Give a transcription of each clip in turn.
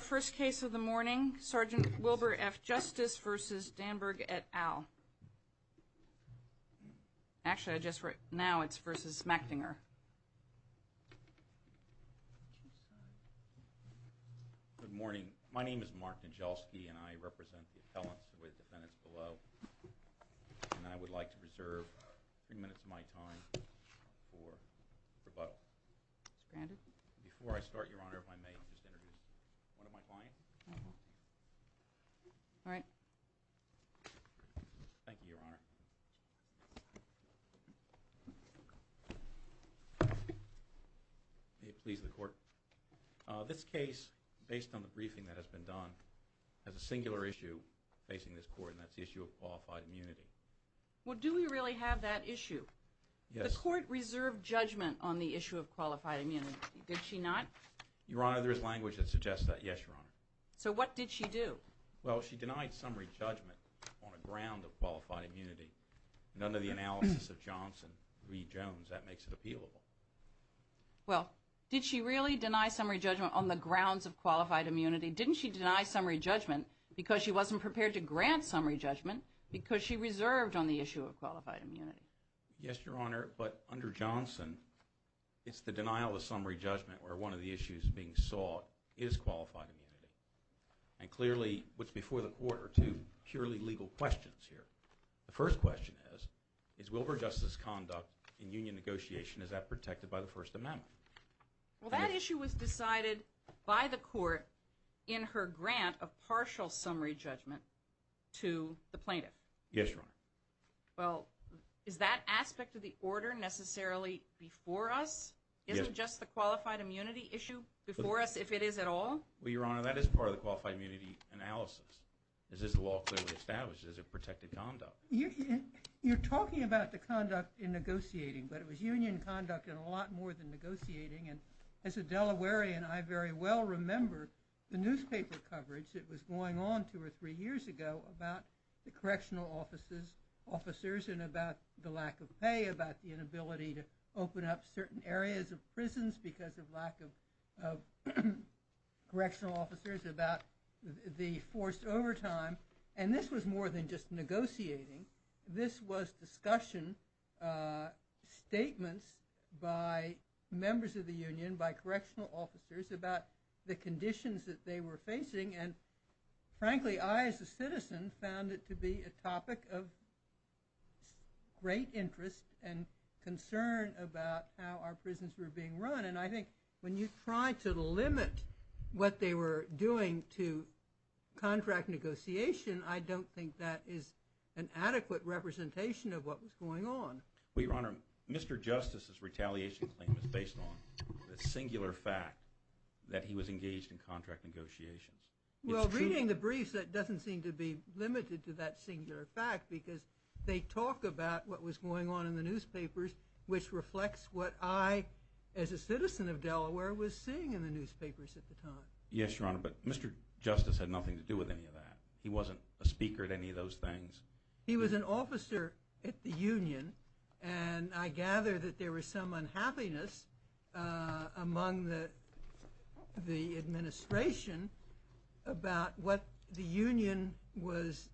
First case of the morning, Sgt. Wilbur F. Justice v. Danberg et al. Actually, now it's v. Machtinger. Good morning. My name is Mark Nijelski, and I represent the appellants with defendants below. And I would like to reserve three minutes of my time for rebuttal. Before I start, Your Honor, if I may, I'll just introduce one of my clients. All right. Thank you, Your Honor. May it please the Court. This case, based on the briefing that has been done, has a singular issue facing this Court, and that's the issue of qualified immunity. Well, do we really have that issue? Yes. Did the Court reserve judgment on the issue of qualified immunity? Did she not? Your Honor, there is language that suggests that, yes, Your Honor. So what did she do? Well, she denied summary judgment on the grounds of qualified immunity. And under the analysis of Johnson v. Jones, that makes it appealable. Well, did she really deny summary judgment on the grounds of qualified immunity? Didn't she deny summary judgment because she wasn't prepared to grant summary judgment because she reserved on the issue of qualified immunity? Yes, Your Honor, but under Johnson, it's the denial of summary judgment where one of the issues being sought is qualified immunity. And clearly, what's before the Court are two purely legal questions here. The first question is, is Wilbur Justice's conduct in union negotiation, is that protected by the First Amendment? Well, that issue was decided by the Court in her grant of partial summary judgment to the plaintiff. Yes, Your Honor. Well, is that aspect of the order necessarily before us? Yes. Isn't just the qualified immunity issue before us, if it is at all? Well, Your Honor, that is part of the qualified immunity analysis. Is this law clearly established? Is it protected conduct? You're talking about the conduct in negotiating, but it was union conduct and a lot more than negotiating. And as a Delawarean, I very well remember the newspaper coverage that was going on two or three years ago about the correctional officers and about the lack of pay, about the inability to open up certain areas of prisons because of lack of correctional officers, about the forced overtime. And this was more than just negotiating. This was discussion, statements by members of the union, by correctional officers about the conditions that they were facing. And frankly, I as a citizen found it to be a topic of great interest and concern about how our prisons were being run. And I think when you try to limit what they were doing to contract negotiation, I don't think that is an adequate representation of what was going on. Well, Your Honor, Mr. Justice's retaliation claim is based on the singular fact that he was engaged in contract negotiations. Well, reading the briefs, that doesn't seem to be limited to that singular fact because they talk about what was going on in the newspapers, which reflects what I as a citizen of Delaware was seeing in the newspapers at the time. Yes, Your Honor, but Mr. Justice had nothing to do with any of that. He wasn't a speaker at any of those things. He was an officer at the union, and I gather that there was some unhappiness among the administration about what the union was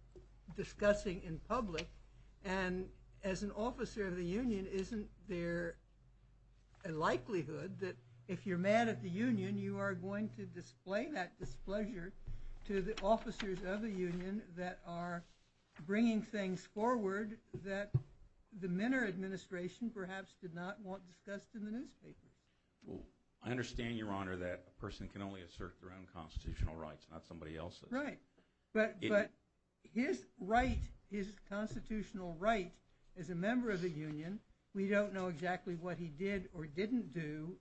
discussing in public. And as an officer of the union, isn't there a likelihood that if you're mad at the union, you are going to display that displeasure to the officers of the union that are bringing things forward that the Minner administration perhaps did not want discussed in the newspaper? I understand, Your Honor, that a person can only assert their own constitutional rights, not somebody else's. That's right. But his right, his constitutional right as a member of the union, we don't know exactly what he did or didn't do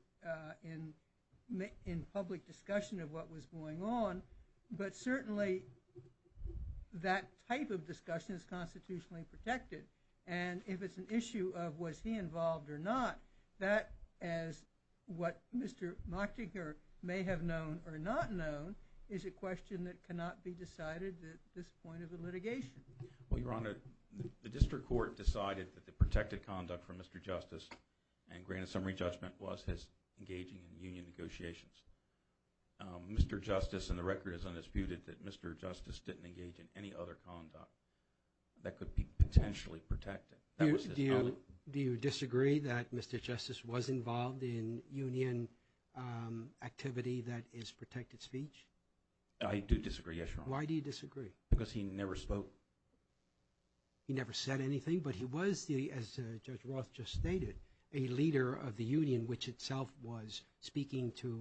in public discussion of what was going on, but certainly that type of discussion is constitutionally protected. And if it's an issue of was he involved or not, that, as what Mr. Machtiger may have known or not known, is a question that cannot be decided at this point of the litigation. Well, Your Honor, the district court decided that the protected conduct from Mr. Justice, and granted summary judgment, was his engaging in union negotiations. Mr. Justice, and the record is undisputed, that Mr. Justice didn't engage in any other conduct that could be potentially protected. Do you disagree that Mr. Justice was involved in union activity that is protected speech? I do disagree, yes, Your Honor. Why do you disagree? Because he never spoke. He never said anything, but he was, as Judge Roth just stated, a leader of the union, which itself was speaking to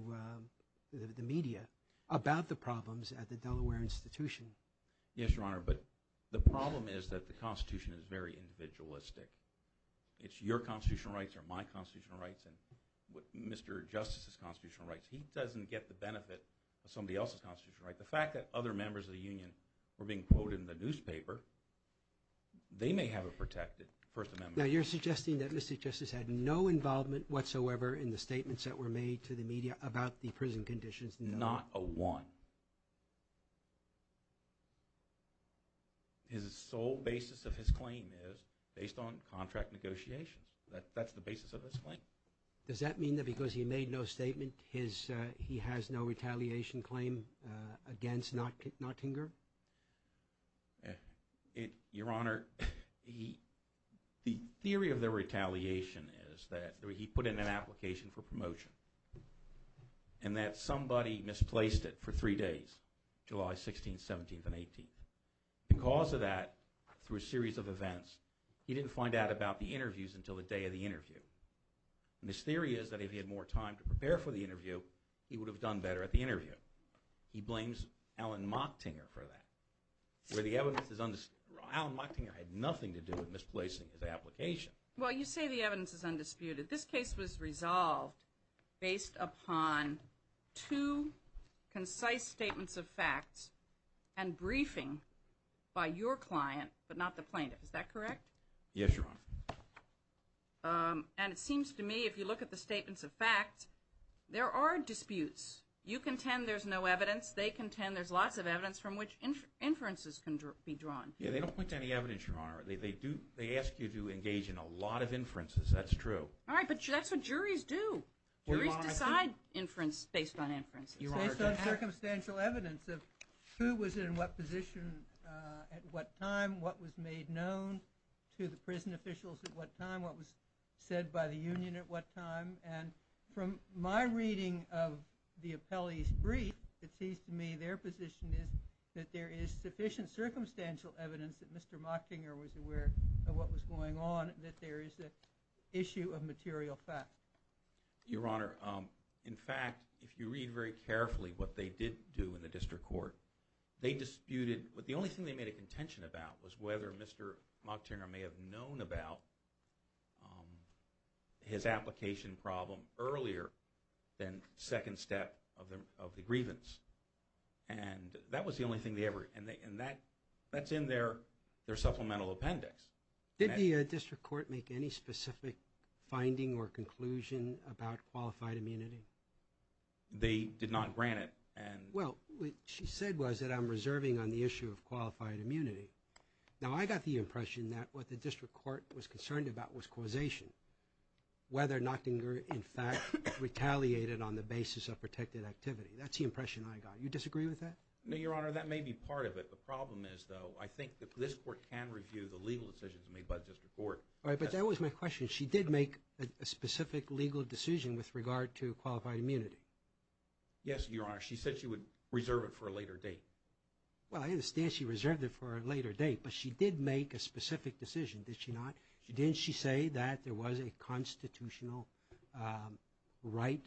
the media about the problems at the Delaware Institution. Yes, Your Honor, but the problem is that the Constitution is very individualistic. It's your constitutional rights or my constitutional rights and Mr. Justice's constitutional rights. He doesn't get the benefit of somebody else's constitutional rights. The fact that other members of the union were being quoted in the newspaper, they may have it protected, First Amendment. Now, you're suggesting that Mr. Justice had no involvement whatsoever in the statements that were made to the media about the prison conditions? Not a one. His sole basis of his claim is based on contract negotiations. That's the basis of his claim. Does that mean that because he made no statement, he has no retaliation claim against Nottinger? Your Honor, the theory of the retaliation is that he put in an application for promotion and that somebody misplaced it for three days, July 16th, 17th, and 18th. Because of that, through a series of events, he didn't find out about the interviews until the day of the interview. And his theory is that if he had more time to prepare for the interview, he would have done better at the interview. He blames Alan Mocktinger for that, where the evidence is undisputed. Alan Mocktinger had nothing to do with misplacing his application. Well, you say the evidence is undisputed. This case was resolved based upon two concise statements of facts and briefing by your client, but not the plaintiff. Is that correct? Yes, Your Honor. And it seems to me, if you look at the statements of facts, there are disputes. You contend there's no evidence. They contend there's lots of evidence from which inferences can be drawn. Yeah, they don't point to any evidence, Your Honor. They ask you to engage in a lot of inferences. That's true. All right, but that's what juries do. Juries decide inference based on inference. Based on circumstantial evidence of who was in what position at what time, what was made known to the prison officials at what time, what was said by the union at what time. And from my reading of the appellee's brief, it seems to me their position is that there is sufficient circumstantial evidence that Mr. Mockinger was aware of what was going on, that there is an issue of material facts. Your Honor, in fact, if you read very carefully what they did do in the district court, they disputed, but the only thing they made a contention about was whether Mr. Mockinger may have known about his application problem earlier than second step of the grievance. And that was the only thing they ever, and that's in their supplemental appendix. Did the district court make any specific finding or conclusion about qualified immunity? They did not grant it. Well, what she said was that I'm reserving on the issue of qualified immunity. Now, I got the impression that what the district court was concerned about was causation, whether Mockinger, in fact, retaliated on the basis of protected activity. That's the impression I got. You disagree with that? No, Your Honor, that may be part of it. The problem is, though, I think that this court can review the legal decisions made by the district court. All right, but that was my question. She did make a specific legal decision with regard to qualified immunity? Yes, Your Honor. She said she would reserve it for a later date. Well, I understand she reserved it for a later date, but she did make a specific decision, did she not? Didn't she say that there was a constitutional right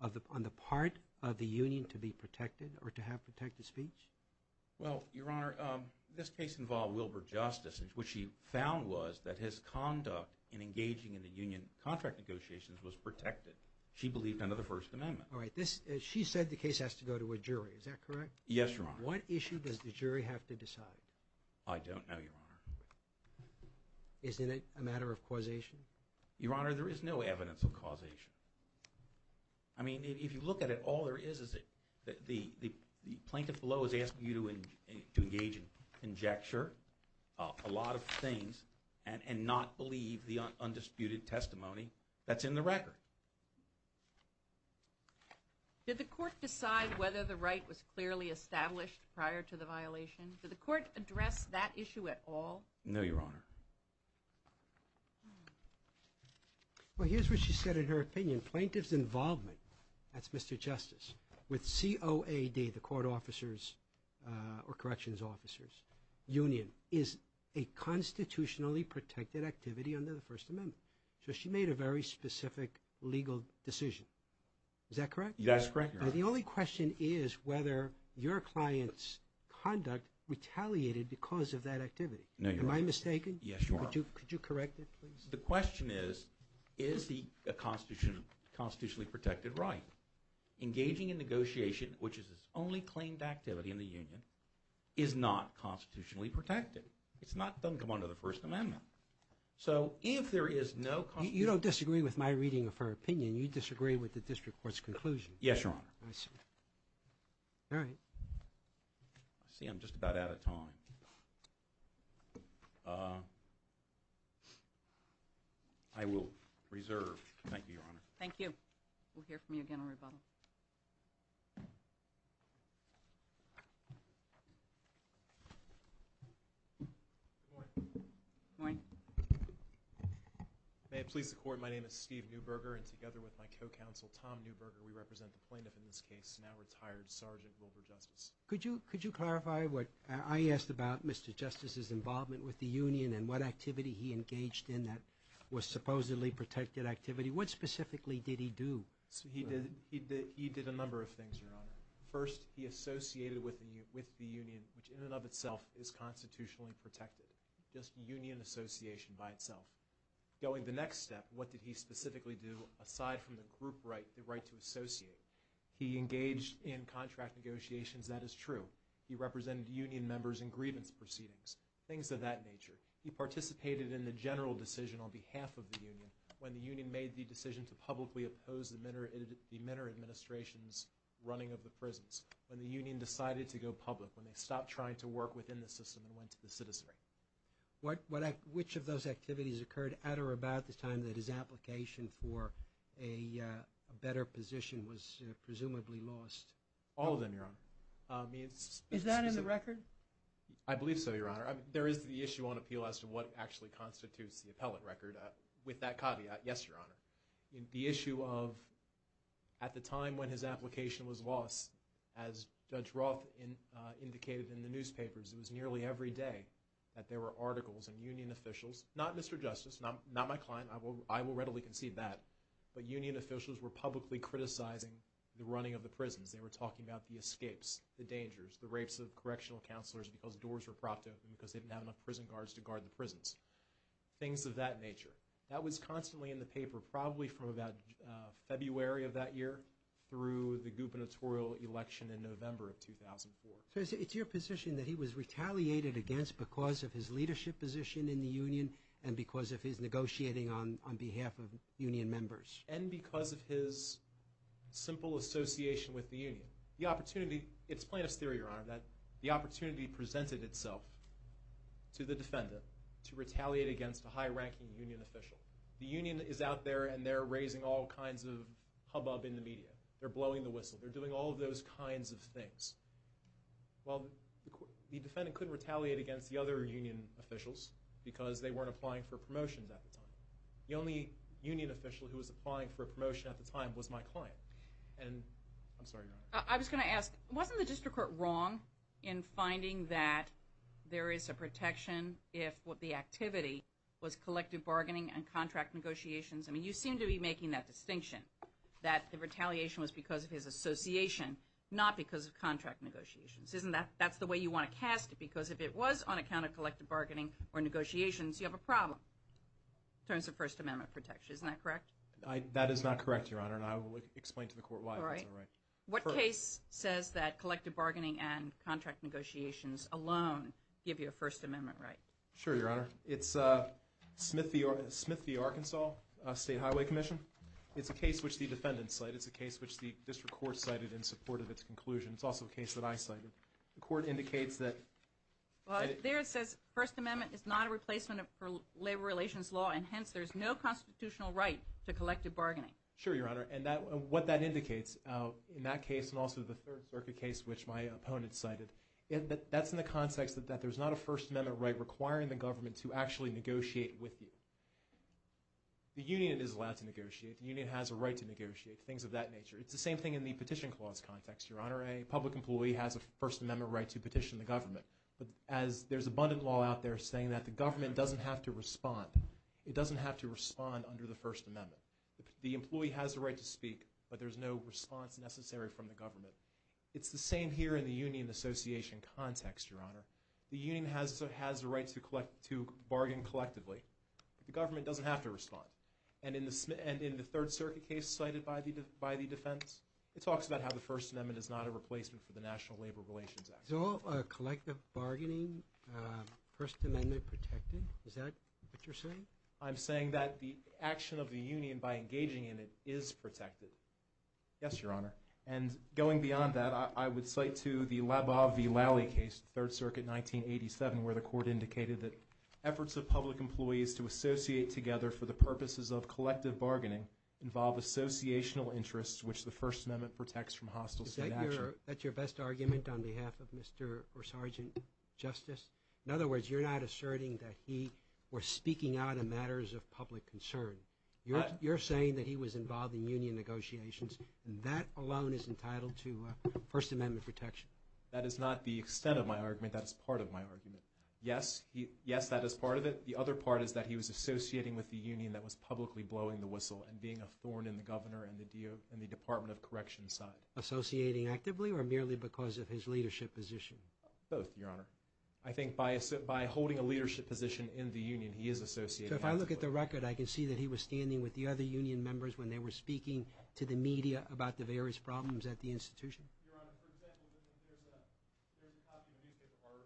on the part of the union to be protected or to have protected speech? Well, Your Honor, this case involved Wilbur Justice, and what she found was that his conduct in engaging in the union contract negotiations was protected. She believed under the First Amendment. All right, she said the case has to go to a jury. Is that correct? Yes, Your Honor. What issue does the jury have to decide? I don't know, Your Honor. Isn't it a matter of causation? Your Honor, there is no evidence of causation. I mean, if you look at it, all there is is the plaintiff below is asking you to engage in conjecture, a lot of things, and not believe the undisputed testimony that's in the record. Did the court decide whether the right was clearly established prior to the violation? Did the court address that issue at all? No, Your Honor. Well, here's what she said in her opinion. Plaintiff's involvement, that's Mr. Justice, with COAD, the court officers or corrections officers union, is a constitutionally protected activity under the First Amendment. So she made a very specific legal decision. Is that correct? That's correct, Your Honor. Now, the only question is whether your client's conduct retaliated because of that activity. No, Your Honor. Am I mistaken? Yes, Your Honor. Could you correct it, please? The question is, is he a constitutionally protected right? Engaging in negotiation, which is his only claimed activity in the union, is not constitutionally protected. It's not, doesn't come under the First Amendment. So if there is no... You don't disagree with my reading of her opinion. You disagree with the district court's conclusion. Yes, Your Honor. All right. I see I'm just about out of time. I will reserve. Thank you, Your Honor. Thank you. We'll hear from you again on rebuttal. Good morning. Good morning. May it please the Court, my name is Steve Neuberger and together with my co-counsel, Tom Neuberger, we represent the plaintiff in this case, now retired, Sergeant Wilbur Justice. Could you clarify what I asked about Mr. Justice's involvement with the union and what activity he engaged in that was supposedly protected activity? What specifically did he do? He did a number of things, Your Honor. First, he associated with the union, which in and of itself is constitutionally protected. Just union association by itself. Going to the next step, what did he specifically do aside from the group right, the right to associate? He engaged in contract negotiations, that is true. He represented union members in grievance proceedings, things of that nature. He participated in the general decision on behalf of the union when the union made the decision to publicly oppose the Minner administration's running of the prisons. When the union decided to go public, when they stopped trying to work within the system and went to the citizenry. Which of those activities occurred at or about the time that his application for a better position was presumably lost? All of them, Your Honor. Is that in the record? I believe so, Your Honor. There is the issue on appeal as to what actually constitutes the appellate record. With that caveat, yes, Your Honor. The issue of, at the time when his application was lost, as Judge Roth indicated in the newspapers, it was nearly every day that there were articles and union officials, not Mr. Justice, not my client, I will readily concede that, but union officials were publicly criticizing the running of the prisons. They were talking about the escapes, the dangers, the rapes of correctional counselors because doors were propped open because they didn't have enough prison guards to guard the prisons. Things of that nature. That was constantly in the paper, probably from about February of that year through the gubernatorial election in November of 2004. So it's your position that he was retaliated against because of his leadership position in the union and because of his negotiating on behalf of union members? And because of his simple association with the union. The opportunity, it's plaintiff's theory, Your Honor, that the opportunity presented itself to the defendant to retaliate against a high-ranking union official. The union is out there and they're raising all kinds of hubbub in the media. They're blowing the whistle. They're doing all of those kinds of things. Well, the defendant couldn't retaliate against the other union officials because they weren't applying for promotions at the time. The only union official who was applying for a promotion at the time was my client. And I'm sorry, Your Honor. I was going to ask, wasn't the district court wrong in finding that there is a protection if the activity was collective bargaining and contract negotiations? I mean, you seem to be making that distinction that the retaliation was because of his association, not because of contract negotiations. Isn't that the way you want to cast it? Because if it was on account of collective bargaining or negotiations, you have a problem in terms of First Amendment protection. Isn't that correct? That is not correct, Your Honor, and I will explain to the court why that's not right. All right. What case says that collective bargaining and contract negotiations alone give you a First Amendment right? Sure, Your Honor. It's Smith v. Arkansas State Highway Commission. It's a case which the defendant cited. It's a case which the district court cited in support of its conclusion. It's also a case that I cited. The court indicates that – Well, there it says First Amendment is not a replacement for labor relations law, and hence there's no constitutional right to collective bargaining. Sure, Your Honor. And what that indicates in that case and also the Third Circuit case which my opponent cited, that's in the context that there's not a First Amendment right requiring the government to actually negotiate with you. The union is allowed to negotiate. The union has a right to negotiate, things of that nature. It's the same thing in the petition clause context, Your Honor. A public employee has a First Amendment right to petition the government. But as there's abundant law out there saying that the government doesn't have to respond, it doesn't have to respond under the First Amendment. The employee has the right to speak, but there's no response necessary from the government. It's the same here in the union association context, Your Honor. The union has the right to bargain collectively, but the government doesn't have to respond. And in the Third Circuit case cited by the defense, it talks about how the First Amendment is not a replacement for the National Labor Relations Act. Is all collective bargaining First Amendment protected? Is that what you're saying? I'm saying that the action of the union by engaging in it is protected. Yes, Your Honor. And going beyond that, I would cite to the Labov v. Lally case, Third Circuit, 1987, where the court indicated that efforts of public employees to associate together for the purposes of collective bargaining involve associational interests which the First Amendment protects from hostile state action. Is that your best argument on behalf of Mr. or Sergeant Justice? In other words, you're not asserting that he was speaking out in matters of public concern. You're saying that he was involved in union negotiations, and that alone is entitled to First Amendment protection. That is not the extent of my argument. That is part of my argument. Yes, that is part of it. The other part is that he was associating with the union that was publicly blowing the whistle and being a thorn in the governor and the Department of Corrections' side. Associating actively or merely because of his leadership position? Both, Your Honor. I think by holding a leadership position in the union, he is associating actively. So if I look at the record, I can see that he was standing with the other union members when they were speaking to the media about the various problems at the institution? Your Honor, for example, there's a copy of a newspaper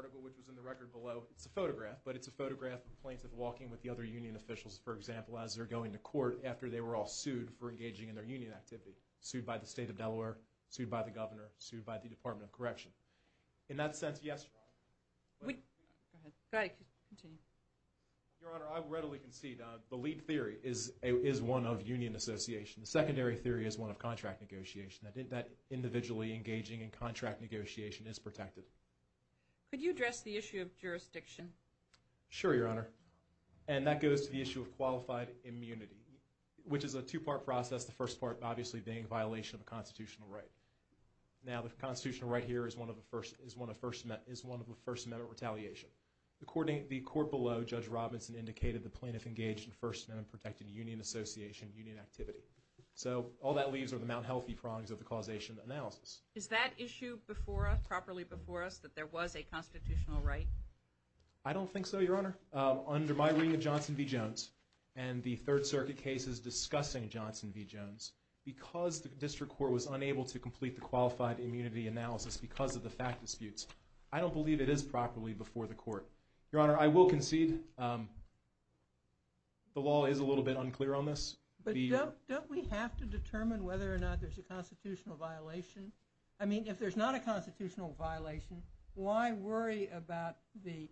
article which was in the record below. It's a photograph, but it's a photograph of plaintiff walking with the other union officials, for example, as they're going to court after they were all sued for engaging in their union activity. Sued by the state of Delaware, sued by the governor, sued by the Department of Correction. In that sense, yes, Your Honor. Go ahead. Go ahead. Continue. Your Honor, I readily concede the lead theory is one of union association. The secondary theory is one of contract negotiation, that individually engaging in contract negotiation is protected. Could you address the issue of jurisdiction? Sure, Your Honor. And that goes to the issue of qualified immunity, which is a two-part process, the first part obviously being violation of a constitutional right. Now, the constitutional right here is one of the First Amendment retaliation. The court below, Judge Robinson, indicated the plaintiff engaged in First Amendment-protected union association, union activity. So all that leaves are the Mt. Healthy prongs of the causation analysis. Is that issue before us, properly before us, that there was a constitutional right? I don't think so, Your Honor. Under my reading of Johnson v. Jones and the Third Circuit cases discussing Johnson v. Jones, because the district court was unable to complete the qualified immunity analysis because of the fact disputes, I don't believe it is properly before the court. Your Honor, I will concede the law is a little bit unclear on this. But don't we have to determine whether or not there's a constitutional violation? I mean, if there's not a constitutional violation, why worry about the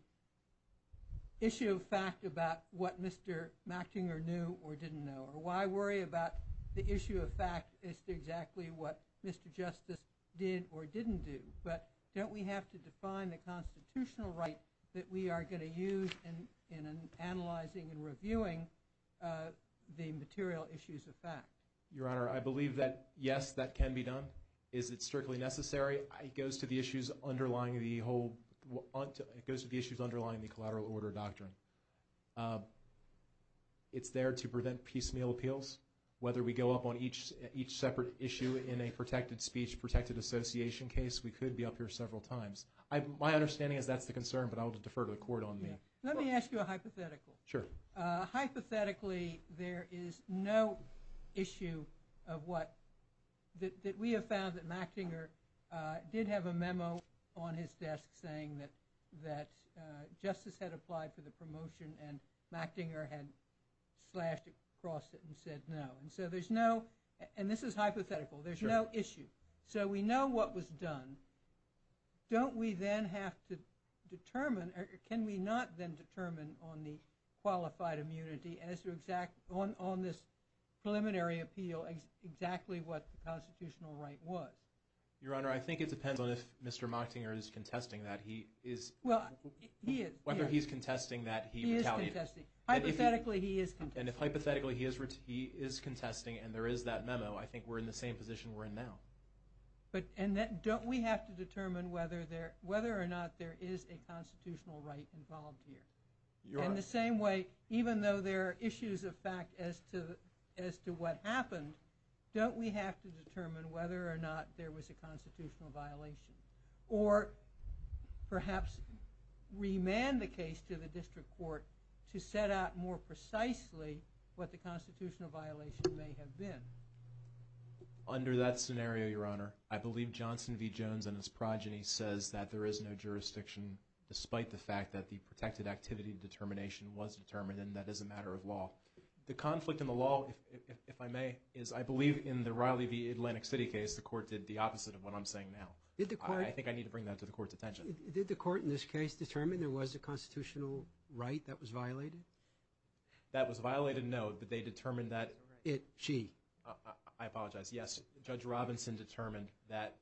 issue of fact about what Mr. Machtinger knew or didn't know? Or why worry about the issue of fact as to exactly what Mr. Justice did or didn't do? But don't we have to define the constitutional right that we are going to use in analyzing and reviewing the material issues of fact? Your Honor, I believe that, yes, that can be done. Is it strictly necessary? It goes to the issues underlying the collateral order doctrine. It's there to prevent piecemeal appeals. Whether we go up on each separate issue in a protected speech, protected association case, we could be up here several times. My understanding is that's the concern, but I will defer to the court on that. Let me ask you a hypothetical. Sure. Hypothetically, there is no issue that we have found that Machtinger did have a memo on his desk saying that justice had applied for the promotion and Machtinger had slashed it, crossed it, and said no. And so there's no – and this is hypothetical. There's no issue. So we know what was done. Don't we then have to determine – or can we not then determine on the qualified immunity as to exact – on this preliminary appeal exactly what the constitutional right was? Your Honor, I think it depends on if Mr. Machtinger is contesting that he is – Well, he is. Whether he's contesting that he retaliated. He is contesting. Hypothetically, he is contesting. And if hypothetically he is contesting and there is that memo, I think we're in the same position we're in now. And don't we have to determine whether or not there is a constitutional right involved here? Your Honor – In the same way, even though there are issues of fact as to what happened, don't we have to determine whether or not there was a constitutional violation or perhaps remand the case to the district court to set out more precisely what the constitutional violation may have been? Under that scenario, Your Honor, I believe Johnson v. Jones and his progeny says that there is no jurisdiction despite the fact that the protected activity determination was determined and that is a matter of law. The conflict in the law, if I may, is I believe in the Riley v. Atlantic City case, the court did the opposite of what I'm saying now. Did the court – I think I need to bring that to the court's attention. Did the court in this case determine there was a constitutional right that was violated? That was violated, no, but they determined that – It – she. I apologize. Yes, Judge Robinson determined that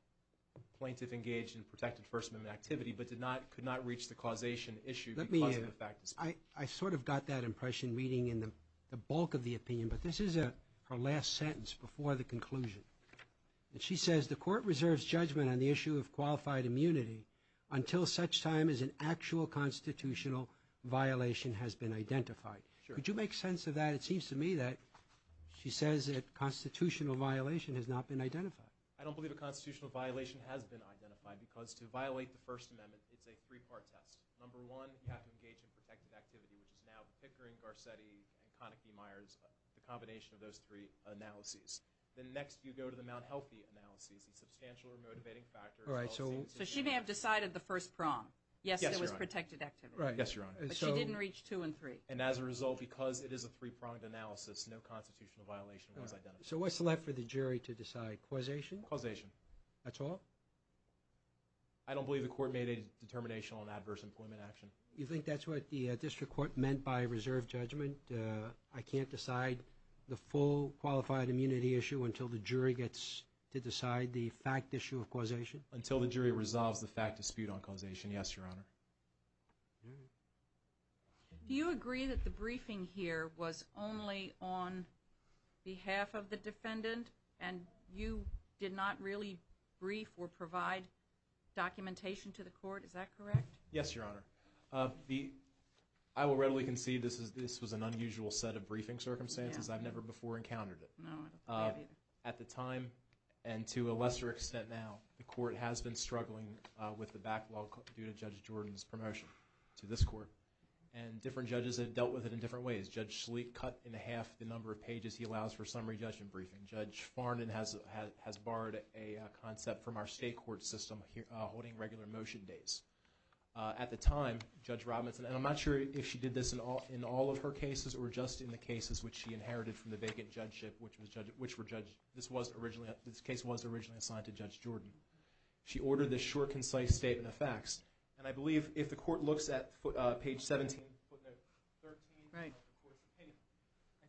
plaintiff engaged in protected First Amendment activity but did not – could not reach the causation issue because of the fact – Let me – I sort of got that impression reading in the bulk of the opinion, but this is her last sentence before the conclusion. And she says, the court reserves judgment on the issue of qualified immunity until such time as an actual constitutional violation has been identified. Sure. Would you make sense of that? It seems to me that she says that constitutional violation has not been identified. I don't believe a constitutional violation has been identified because to violate the First Amendment, it's a three-part test. Number one, you have to engage in protected activity, which is now Pickering, Garcetti, and Konecki-Meyers, the combination of those three analyses. Then next you go to the Mount Healthy analyses and substantial or motivating factors. All right, so – So she may have decided the first prong. Yes, Your Honor. Yes, it was protected activity. Right. Yes, Your Honor. But she didn't reach two and three. And as a result, because it is a three-pronged analysis, no constitutional violation was identified. So what's left for the jury to decide, causation? Causation. That's all? I don't believe the court made a determination on adverse employment action. You think that's what the district court meant by reserve judgment? I can't decide the full qualified immunity issue until the jury gets to decide the fact issue of causation? Until the jury resolves the fact dispute on causation, yes, Your Honor. All right. Do you agree that the briefing here was only on behalf of the defendant and you did not really brief or provide documentation to the court? Is that correct? Yes, Your Honor. I will readily concede this was an unusual set of briefing circumstances. I've never before encountered it. No, I don't believe either. At the time and to a lesser extent now, the court has been struggling with the backlog due to Judge Jordan's promotion to this court. And different judges have dealt with it in different ways. Judge Schlick cut in half the number of pages he allows for summary judgment briefing. Judge Farnon has borrowed a concept from our state court system holding regular motion days. At the time, Judge Robinson, and I'm not sure if she did this in all of her cases or just in the cases which she inherited from the vacant judgeship, this case was originally assigned to Judge Jordan. She ordered this short, concise statement of facts. And I believe if the court looks at page 17, footnote 13, I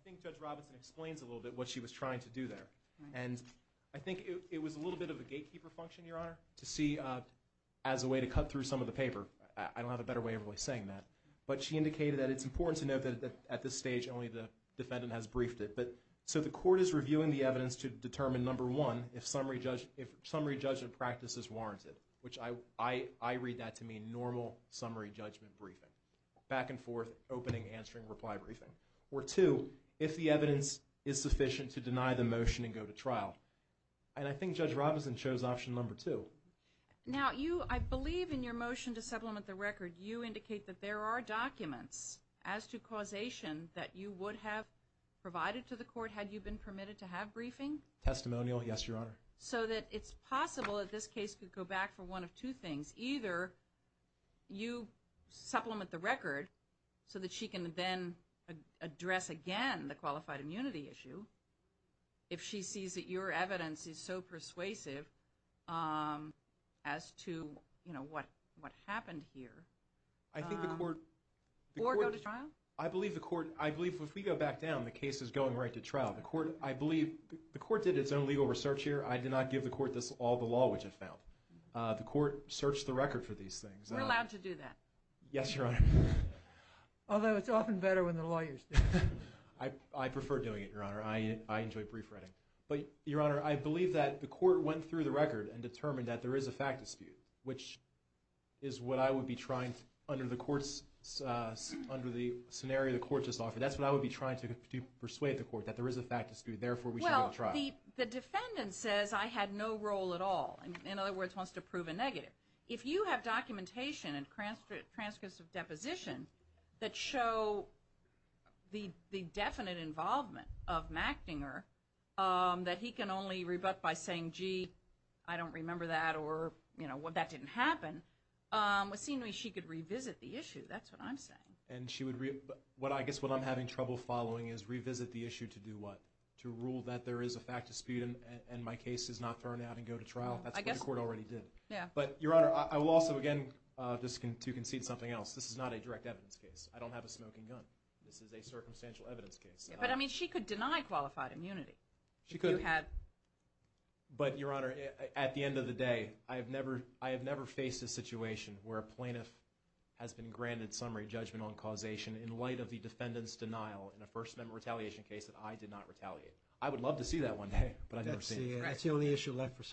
think Judge Robinson explains a little bit what she was trying to do there. And I think it was a little bit of a gatekeeper function, Your Honor, to see as a way to cut through some of the paper. I don't have a better way of really saying that. But she indicated that it's important to note that at this stage only the defendant has briefed it. So the court is reviewing the evidence to determine, number one, if summary judgment practice is warranted, which I read that to mean normal summary judgment briefing, back and forth, opening, answering, reply briefing. Or two, if the evidence is sufficient to deny the motion and go to trial. And I think Judge Robinson chose option number two. Now you, I believe in your motion to supplement the record, you indicate that there are documents as to causation that you would have provided to the court had you been permitted to have briefing. Testimonial, yes, Your Honor. So that it's possible that this case could go back for one of two things. Either you supplement the record so that she can then address again the qualified immunity issue if she sees that your evidence is so persuasive as to, you know, what happened here. I think the court. Or go to trial. I believe the court, I believe if we go back down, the case is going right to trial. The court, I believe, the court did its own legal research here. I did not give the court all the law which it found. The court searched the record for these things. We're allowed to do that. Yes, Your Honor. Although it's often better when the lawyers do it. I prefer doing it, Your Honor. I enjoy brief writing. But, Your Honor, I believe that the court went through the record and determined that there is a fact dispute, which is what I would be trying under the court's, under the scenario the court just offered. That's what I would be trying to persuade the court, that there is a fact dispute. Therefore, we should go to trial. Well, the defendant says, I had no role at all. In other words, wants to prove a negative. If you have documentation and transcripts of deposition that show the definite involvement of Machtinger, that he can only rebut by saying, gee, I don't remember that or, you know, that didn't happen. It seems to me she could revisit the issue. That's what I'm saying. And she would, I guess what I'm having trouble following is revisit the issue to do what? To rule that there is a fact dispute and my case is not thrown out and go to trial? I guess the court already did. Yeah. But, Your Honor, I will also, again, just to concede something else. This is not a direct evidence case. I don't have a smoking gun. This is a circumstantial evidence case. But, I mean, she could deny qualified immunity. She could. If you had. But, Your Honor, at the end of the day, I have never faced a situation where a plaintiff has been granted summary judgment on causation in light of the defendant's denial in a First Amendment retaliation case that I did not retaliate. I would love to see that one day, but I've never seen it. That's the only issue left for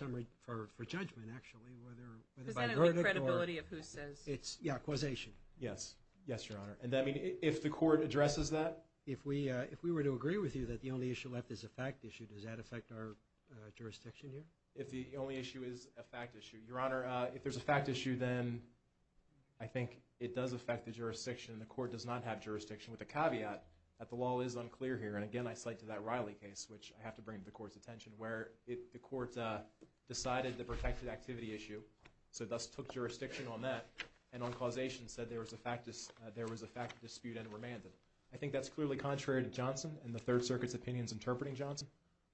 judgment, actually, whether by verdict or... Does that include credibility of who says... Yeah, causation. Yes. Yes, Your Honor. And, I mean, if the court addresses that. If we were to agree with you that the only issue left is a fact issue, does that affect our jurisdiction here? If the only issue is a fact issue. Your Honor, if there's a fact issue, then I think it does affect the jurisdiction. The court does not have jurisdiction with the caveat that the law is unclear here. And, again, I cite to that Riley case, which I have to bring to the court's attention, where the court decided the protected activity issue, so thus took jurisdiction on that, and on causation said there was a fact dispute and remanded. I think that's clearly contrary to Johnson and the Third Circuit's opinions interpreting Johnson,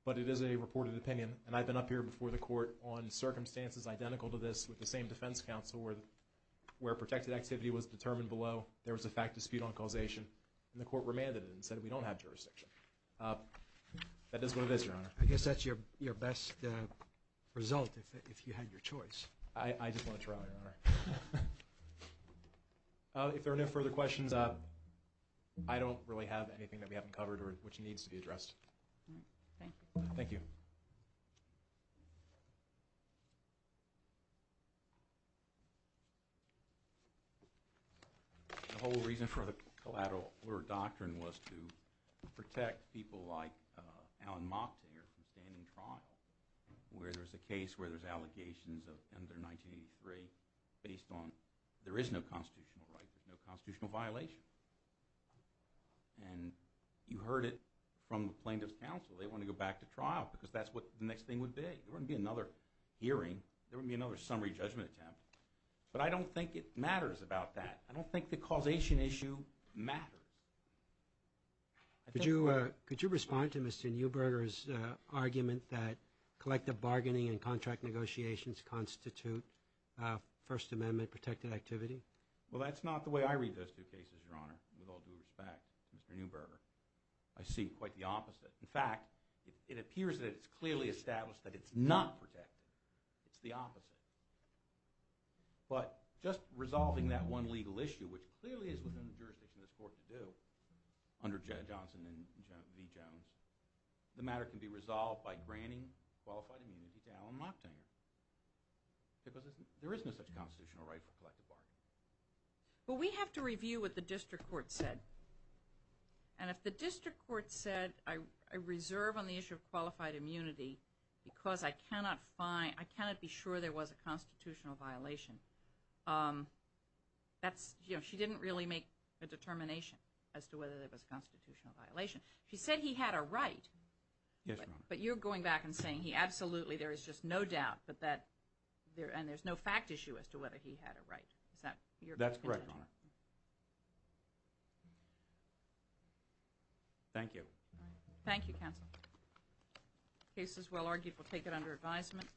but it is a reported opinion. And I've been up here before the court on circumstances identical to this with the same defense counsel where protected activity was determined below, there was a fact dispute on causation, and the court remanded it and said we don't have jurisdiction. That is what it is, Your Honor. I guess that's your best result if you had your choice. I just want to try, Your Honor. If there are no further questions, I don't really have anything that we haven't covered or which needs to be addressed. Thank you. The whole reason for the collateral order doctrine was to protect people like Alan Mocktiger from standing trial where there's a case where there's allegations under 1983 based on there is no constitutional right, there's no constitutional violation. And you heard it from the plaintiff's counsel. They want to go back to trial because that's what the next thing would be. There wouldn't be another hearing. There wouldn't be another summary judgment attempt. But I don't think it matters about that. I don't think the causation issue matters. Could you respond to Mr. Neuberger's argument that collective bargaining and contract negotiations constitute First Amendment-protected activity? Well, that's not the way I read those two cases, Your Honor, with all due respect to Mr. Neuberger. I see quite the opposite. In fact, it appears that it's clearly established that it's not protected. It's the opposite. But just resolving that one legal issue, which clearly is within the jurisdiction of this Court to do under Johnson v. Jones, the matter can be resolved by granting qualified immunity to Alan Mocktiger because there is no such constitutional right for collective bargaining. But we have to review what the district court said. And if the district court said, I reserve on the issue of qualified immunity because I cannot find, I cannot be sure there was a constitutional violation, that's, you know, she didn't really make a determination as to whether there was a constitutional violation. She said he had a right. Yes, Your Honor. But you're going back and saying he absolutely, there is just no doubt that that, and there's no fact issue as to whether he had a right. That's correct, Your Honor. Thank you. Thank you, counsel. The case is well argued. We'll take it under advisement.